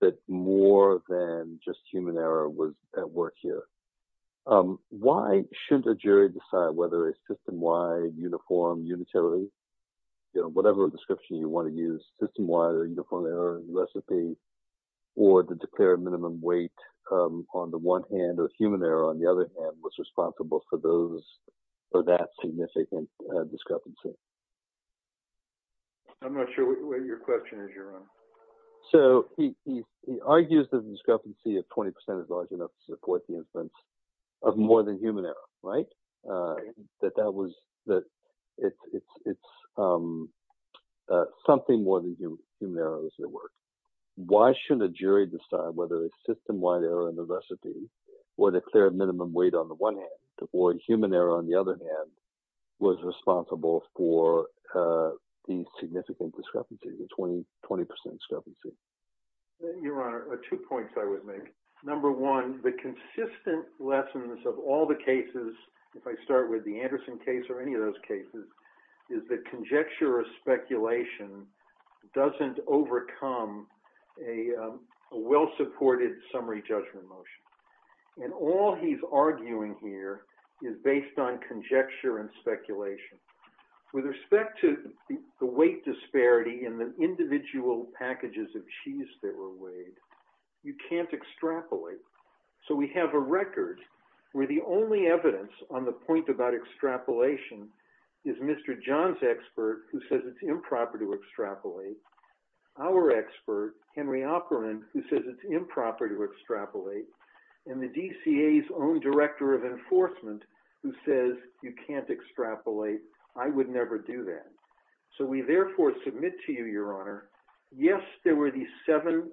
that more than just human error was at work here. Why shouldn't a jury decide whether a system-wide uniform unitarity, whatever description you want to use, system-wide or uniform error recipe, or the declared minimum weight on the one hand or human error on the other hand was responsible for that significant discrepancy? I'm not sure what your question is, Your Honor. So he argues that the discrepancy of 20% is large enough to support the inference of more than human error, right? That that was – that it's something more than human error was at work. Why shouldn't a jury decide whether a system-wide error in the recipe or the declared minimum weight on the one hand or human error on the other hand was responsible for the significant discrepancy, the 20% discrepancy? Your Honor, two points I would make. Number one, the consistent lessons of all the cases, if I start with the Anderson case or any of those cases, is that conjecture or speculation doesn't overcome a well-supported summary judgment motion. And all he's arguing here is based on conjecture and speculation. With respect to the weight disparity in the individual packages of cheese that were weighed, you can't extrapolate. So we have a record where the only evidence on the point about extrapolation is Mr. John's expert, who says it's improper to extrapolate, our expert, Henry Opperman, who says it's improper to extrapolate, and the DCA's own director of enforcement, who says you can't extrapolate. I would never do that. So we therefore submit to you, Your Honor, yes, there were these seven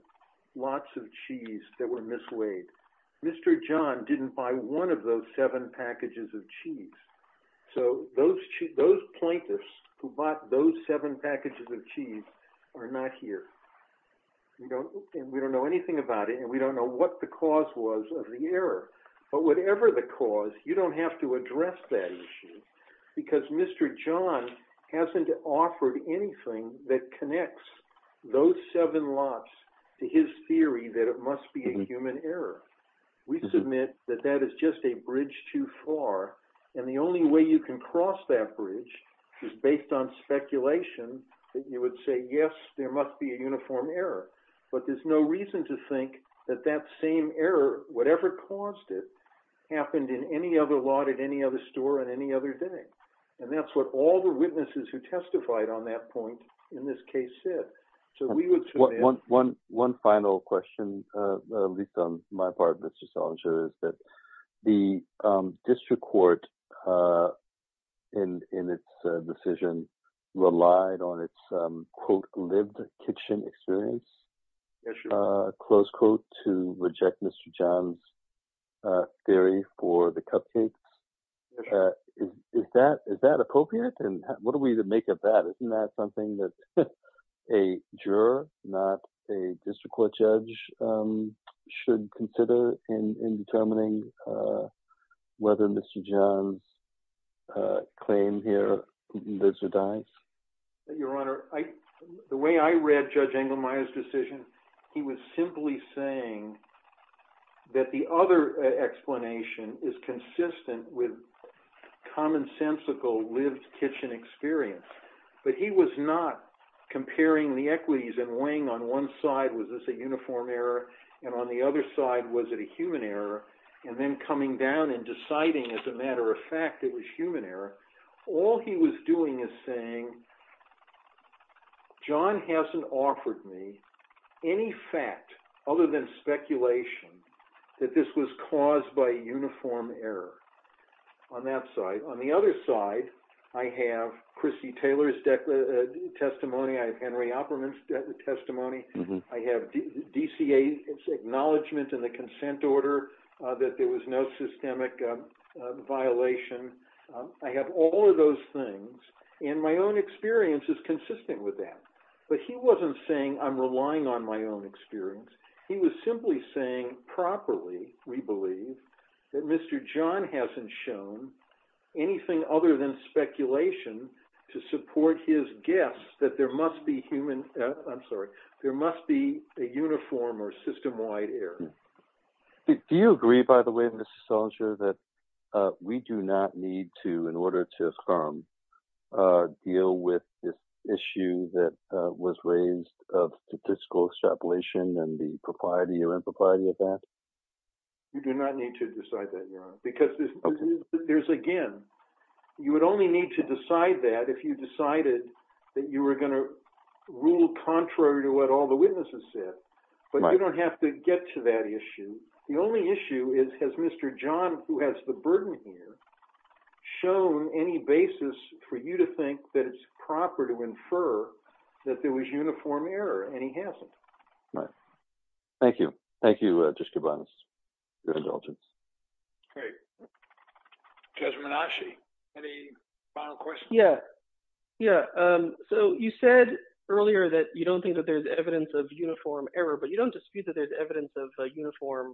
lots of cheese that were misweighed. Mr. John didn't buy one of those seven packages of cheese. So those plaintiffs who bought those seven packages of cheese are not here. We don't know anything about it, and we don't know what the cause was of the error. But whatever the cause, you don't have to address that issue. Because Mr. John hasn't offered anything that connects those seven lots to his theory that it must be a human error. We submit that that is just a bridge too far, and the only way you can cross that bridge is based on speculation that you would say, yes, there must be a uniform error. But there's no reason to think that that same error, whatever caused it, happened in any other lot at any other store on any other day. And that's what all the witnesses who testified on that point in this case said. One final question, at least on my part, Mr. Salinger, is that the district court in its decision relied on its, quote, lived kitchen experience, close quote, to reject Mr. John's theory for the cupcakes. Is that appropriate? And what do we make of that? Isn't that something that a juror, not a district court judge, should consider in determining whether Mr. John's claim here lives or dies? Your Honor, the way I read Judge Engelmeyer's decision, he was simply saying that the other explanation is consistent with commonsensical lived kitchen experience. But he was not comparing the equities and weighing on one side, was this a uniform error, and on the other side, was it a human error, and then coming down and deciding as a matter of fact it was human error. All he was doing is saying, John hasn't offered me any fact other than speculation that this was caused by uniform error on that side. On the other side, I have Chrissy Taylor's testimony, I have Henry Opperman's testimony, I have DCA's acknowledgment in the consent order that there was no systemic violation. I have all of those things, and my own experience is consistent with that. But he wasn't saying I'm relying on my own experience, he was simply saying properly, we believe, that Mr. John hasn't shown anything other than speculation to support his guess that there must be human, I'm sorry, there must be a uniform or system-wide error. Do you agree, by the way, Mr. Salinger, that we do not need to, in order to affirm, deal with this issue that was raised of statistical extrapolation and the propriety or impropriety of that? You do not need to decide that, Your Honor, because there's, again, you would only need to decide that if you decided that you were going to rule contrary to what all the witnesses said. But you don't have to get to that issue. The only issue is has Mr. John, who has the burden here, shown any basis for you to think that it's proper to infer that there was uniform error, and he hasn't. Thank you. Thank you, Justice Kubanis, for your indulgence. Great. Judge Menasci, any final questions? Yeah, yeah. So you said earlier that you don't think that there's evidence of uniform error, but you don't dispute that there's evidence of uniform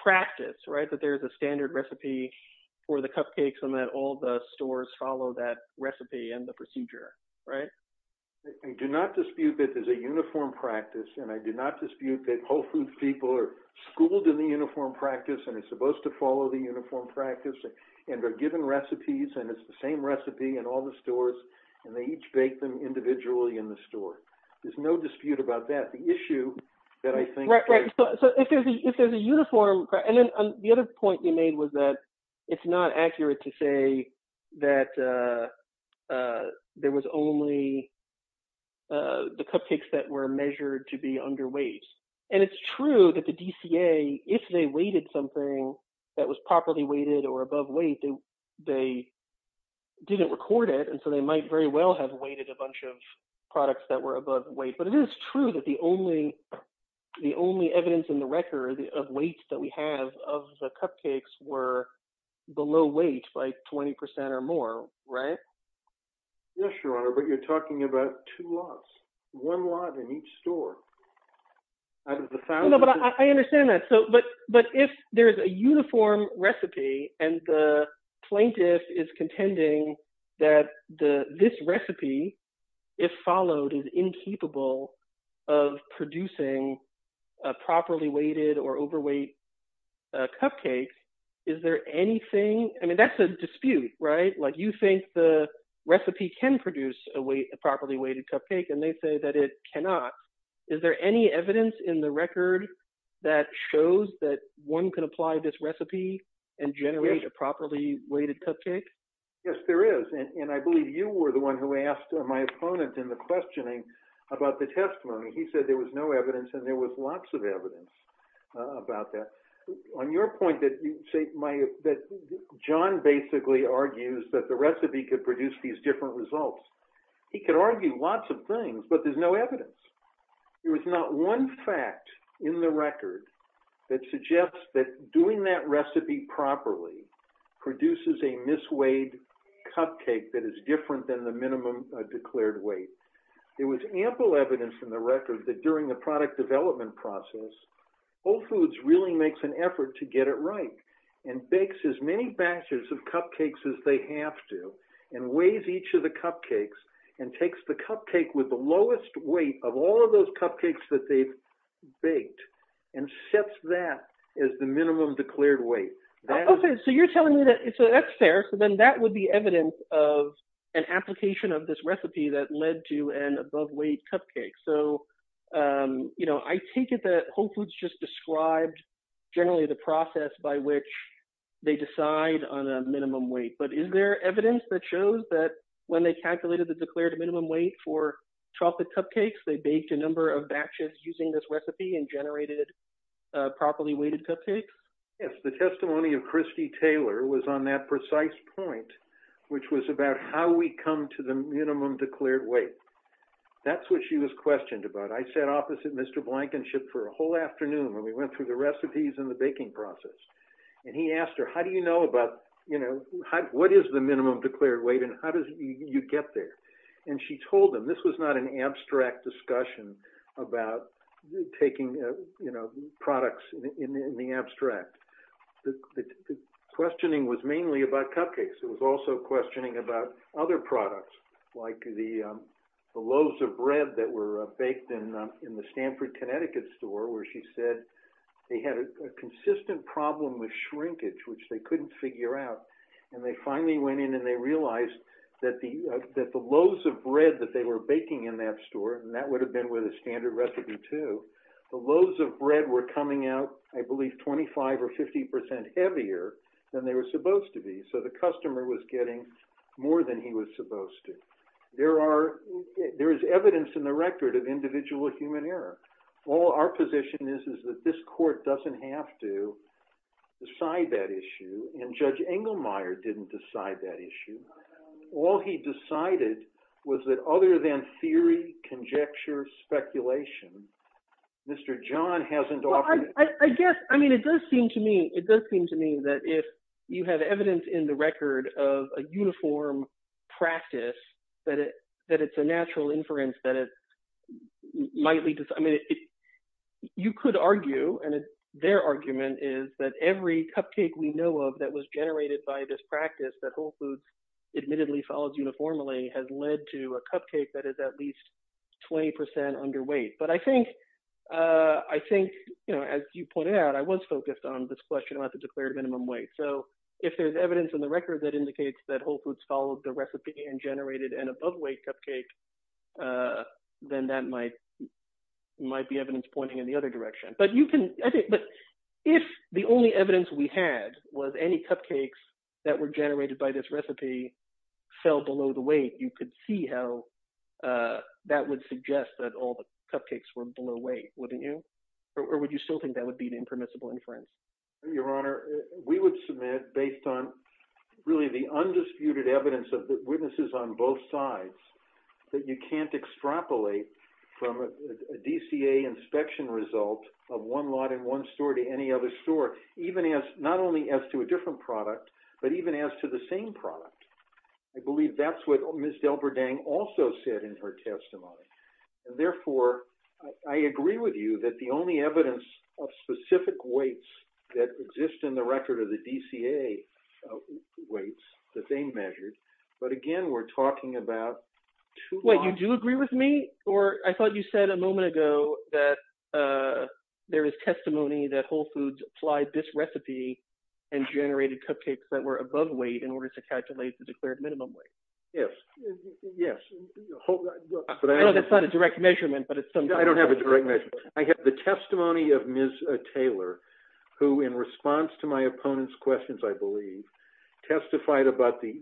practice, right, that there's a standard recipe for the cupcakes and that all the stores follow that recipe and the procedure, right? I do not dispute that there's a uniform practice, and I do not dispute that Whole Foods people are schooled in the uniform practice and are supposed to follow the uniform practice and are given recipes, and it's the same recipe in all the stores, and they each bake them individually in the store. So there's no dispute about that. The issue that I think – Right, right. So if there's a uniform – and then the other point you made was that it's not accurate to say that there was only the cupcakes that were measured to be underweight. And it's true that the DCA, if they weighted something that was properly weighted or above weight, they didn't record it, and so they might very well have weighted a bunch of products that were above weight. But it is true that the only evidence in the record of weight that we have of the cupcakes were below weight by 20 percent or more, right? Yes, Your Honor, but you're talking about two lots, one lot in each store out of the thousands. Yes, there is, and I believe you were the one who asked my opponent in the questioning about the testimony. He said there was no evidence, and there was lots of evidence about that. On your point that John basically argues that the recipe could produce these different results, he could argue lots of things, but there's no evidence. There was not one fact in the record that suggests that doing that recipe properly produces a mis-weighed cupcake that is different than the minimum declared weight. There was ample evidence in the record that during the product development process, Whole Foods really makes an effort to get it right, and bakes as many batches of cupcakes as they have to, and weighs each of the cupcakes, and takes the cupcake with the lowest weight of all of those cupcakes that they've baked, and sets that as the minimum declared weight. Okay, so you're telling me that, so that's fair, so then that would be evidence of an application of this recipe that led to an above-weight cupcake. So, you know, I take it that Whole Foods just described generally the process by which they decide on a minimum weight, but is there evidence that shows that when they calculated the declared minimum weight for chocolate cupcakes, they baked a number of batches using this recipe and generated properly weighted cupcakes? Yes, the testimony of Christy Taylor was on that precise point, which was about how we come to the minimum declared weight. That's what she was questioned about. I sat opposite Mr. Blankenship for a whole afternoon when we went through the recipes and the baking process, and he asked her, how do you know about, you know, what is the minimum declared weight and how do you get there? And she told him, this was not an abstract discussion about taking, you know, products in the abstract. The questioning was mainly about cupcakes. It was also questioning about other products, like the loaves of bread that were baked in the Stanford, Connecticut store, where she said they had a consistent problem with shrinkage, which they couldn't figure out. And they finally went in and they realized that the loaves of bread that they were baking in that store, and that would have been with a standard recipe too, the loaves of bread were coming out, I believe, 25 or 50 percent heavier than they were supposed to be. So the customer was getting more than he was supposed to. There is evidence in the record of individual human error. All our position is is that this court doesn't have to decide that issue, and Judge Engelmeyer didn't decide that issue. All he decided was that other than theory, conjecture, speculation, Mr. John hasn't offered— admittedly follows uniformly, has led to a cupcake that is at least 20 percent underweight. But I think, you know, as you pointed out, I was focused on this question about the declared minimum weight. So if there's evidence in the record that indicates that Whole Foods followed the recipe and generated an aboveweight cupcake, then that might be evidence pointing in the other direction. But if the only evidence we had was any cupcakes that were generated by this recipe fell below the weight, you could see how that would suggest that all the cupcakes were below weight, wouldn't you? Or would you still think that would be an impermissible inference? Your Honor, we would submit, based on really the undisputed evidence of witnesses on both sides, that you can't extrapolate from a DCA inspection result of one lot in one store to any other store, even as—not only as to a different product, but even as to the same product. I believe that's what Ms. Delberding also said in her testimony. And therefore, I agree with you that the only evidence of specific weights that exist in the record of the DCA weights that they measured—but again, we're talking about two— Yes. Yes. No, that's not a direct measurement, but it's— I don't have a direct measurement. I have the testimony of Ms. Taylor, who in response to my opponent's questions, I believe, testified about the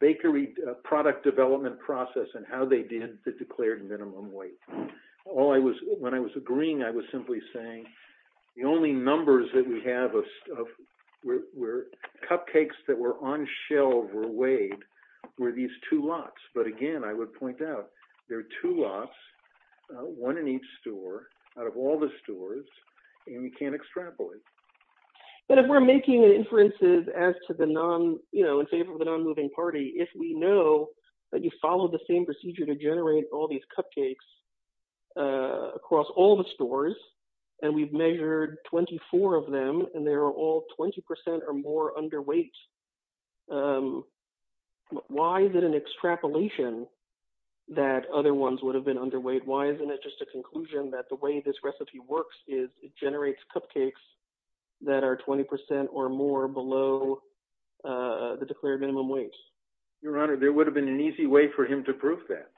bakery product development process and how they did the declared minimum weight. When I was agreeing, I was simply saying the only numbers that we have of cupcakes that were on shelves or weighed were these two lots. But again, I would point out, there are two lots, one in each store, out of all the stores, and you can't extrapolate. But if we're making inferences as to the non—you know, in favor of the non-moving party, if we know that you followed the same procedure to generate all these cupcakes across all the stores, and we've measured 24 of them, and they're all 20% or more underweight, why is it an extrapolation that other ones would have been underweight? Why isn't it just a conclusion that the way this recipe works is it generates cupcakes that are 20% or more below the declared minimum weight? Your Honor, there would have been an easy way for him to prove that,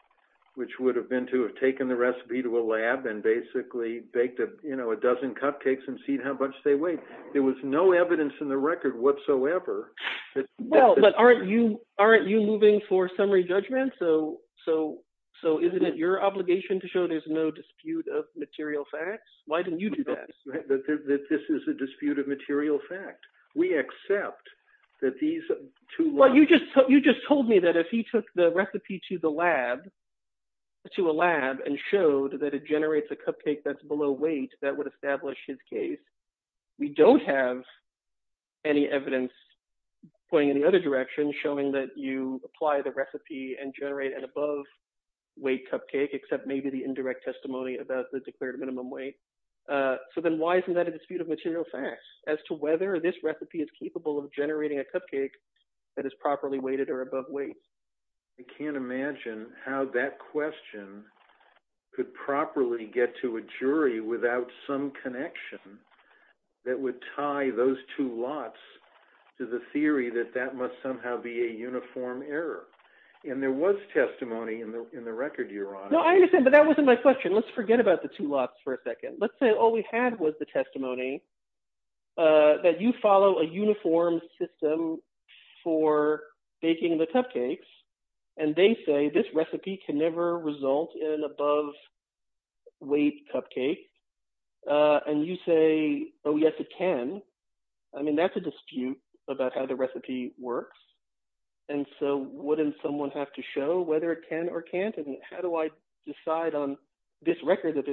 which would have been to have taken the recipe to a lab and basically baked a dozen cupcakes and seen how much they weighed. There was no evidence in the record whatsoever. Well, but aren't you moving for summary judgment? So isn't it your obligation to show there's no dispute of material facts? Why didn't you do that? Right, that this is a dispute of material fact. We accept that these two lots— So then why isn't that a dispute of material facts as to whether this recipe is capable of generating a cupcake that is properly weighted or above weight? I can't imagine how that question could properly get to a jury without some connection that would tie those two lots to the theory that that must somehow be a uniform error. And there was testimony in the record, Your Honor. No, I understand, but that wasn't my question. Let's forget about the two lots for a second. Let's say all we had was the testimony that you follow a uniform system for baking the cupcakes. And they say this recipe can never result in an above-weight cupcake. And you say, oh, yes, it can. I mean, that's a dispute about how the recipe works. And so wouldn't someone have to show whether it can or can't? And how do I decide on this record that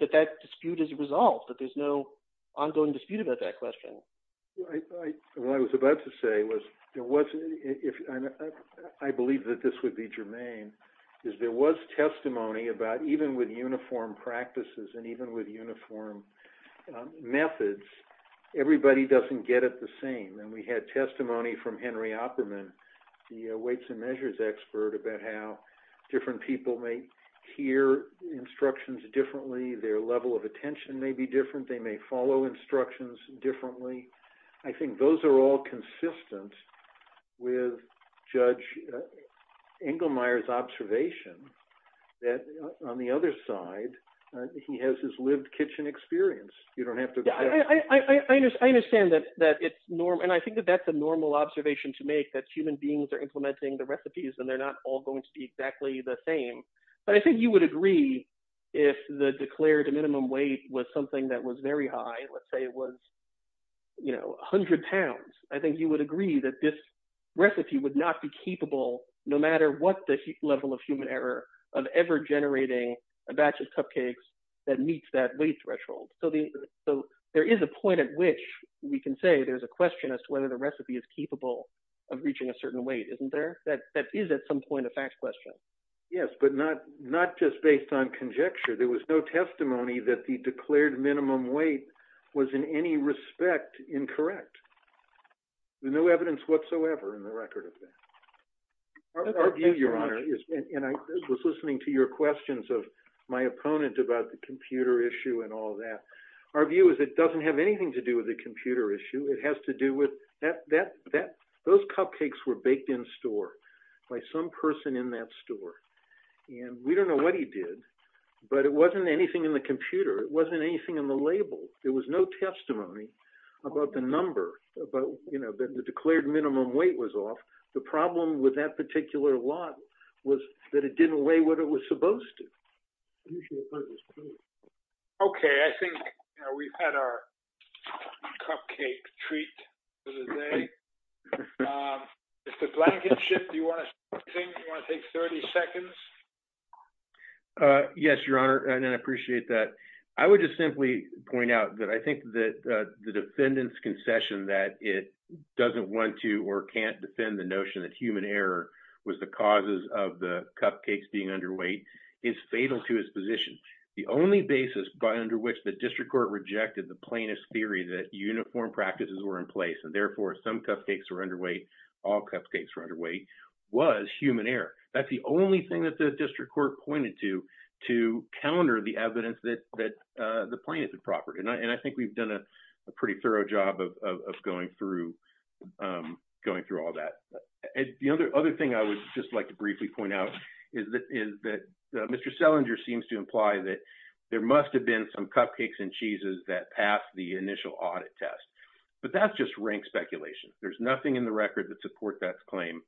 that dispute is resolved, that there's no ongoing dispute about that question? Well, what I was about to say was, I believe that this would be germane, is there was testimony about even with uniform practices and even with uniform methods, everybody doesn't get it the same. And we had testimony from Henry Opperman, the weights and measures expert, about how different people may hear instructions differently. Their level of attention may be different. They may follow instructions differently. I think those are all consistent with Judge Engelmeyer's observation that on the other side, he has his lived kitchen experience. I understand that. And I think that that's a normal observation to make, that human beings are implementing the recipes and they're not all going to be exactly the same. But I think you would agree, if the declared minimum weight was something that was very high, let's say it was, you know, 100 pounds, I think you would agree that this recipe would not be capable, no matter what the level of human error of ever generating a batch of cupcakes that meets that weight threshold. So there is a point at which we can say there's a question as to whether the recipe is capable of reaching a certain weight, isn't there? That is at some point a fact question. Yes, but not just based on conjecture. There was no testimony that the declared minimum weight was in any respect incorrect. No evidence whatsoever in the record of that. Our view, Your Honor, and I was listening to your questions of my opponent about the computer issue and all that. Our view is it doesn't have anything to do with the computer issue. It has to do with that. Those cupcakes were baked in store by some person in that store. And we don't know what he did. But it wasn't anything in the computer. It wasn't anything in the label. There was no testimony about the number about, you know, the declared minimum weight was off. The problem with that particular lot was that it didn't weigh what it was supposed to. Okay, I think we've had our cupcake treat today. Mr. Blankenship, do you want to take 30 seconds? Yes, Your Honor, and I appreciate that. I would just simply point out that I think that the defendant's concession that it doesn't want to or can't defend the notion that human error was the causes of the cupcakes being underweight is fatal to his position. The only basis by under which the district court rejected the plaintiff's theory that uniform practices were in place and therefore some cupcakes were underweight, all cupcakes were underweight, was human error. That's the only thing that the district court pointed to to counter the evidence that the plaintiff had proffered. And I think we've done a pretty thorough job of going through all that. The other thing I would just like to briefly point out is that Mr. Selinger seems to imply that there must have been some cupcakes and cheeses that passed the initial audit test. But that's just rank speculation. There's nothing in the record that supports that claim.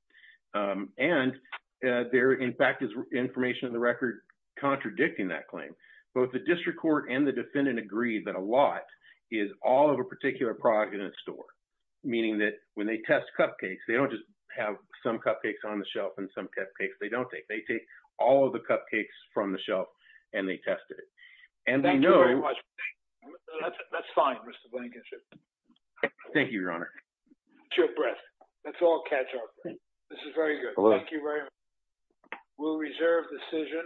And there, in fact, is information in the record contradicting that claim. Both the district court and the defendant agreed that a lot is all of a particular product in a store, meaning that when they test cupcakes, they don't just have some cupcakes on the shelf and some cupcakes they don't take. They take all of the cupcakes from the shelf and they tested it. And we know… Thank you very much. That's fine, Mr. Blankenship. Thank you, Your Honor. It's your breath. Let's all catch our breath. This is very good. Thank you very much. We'll reserve decision.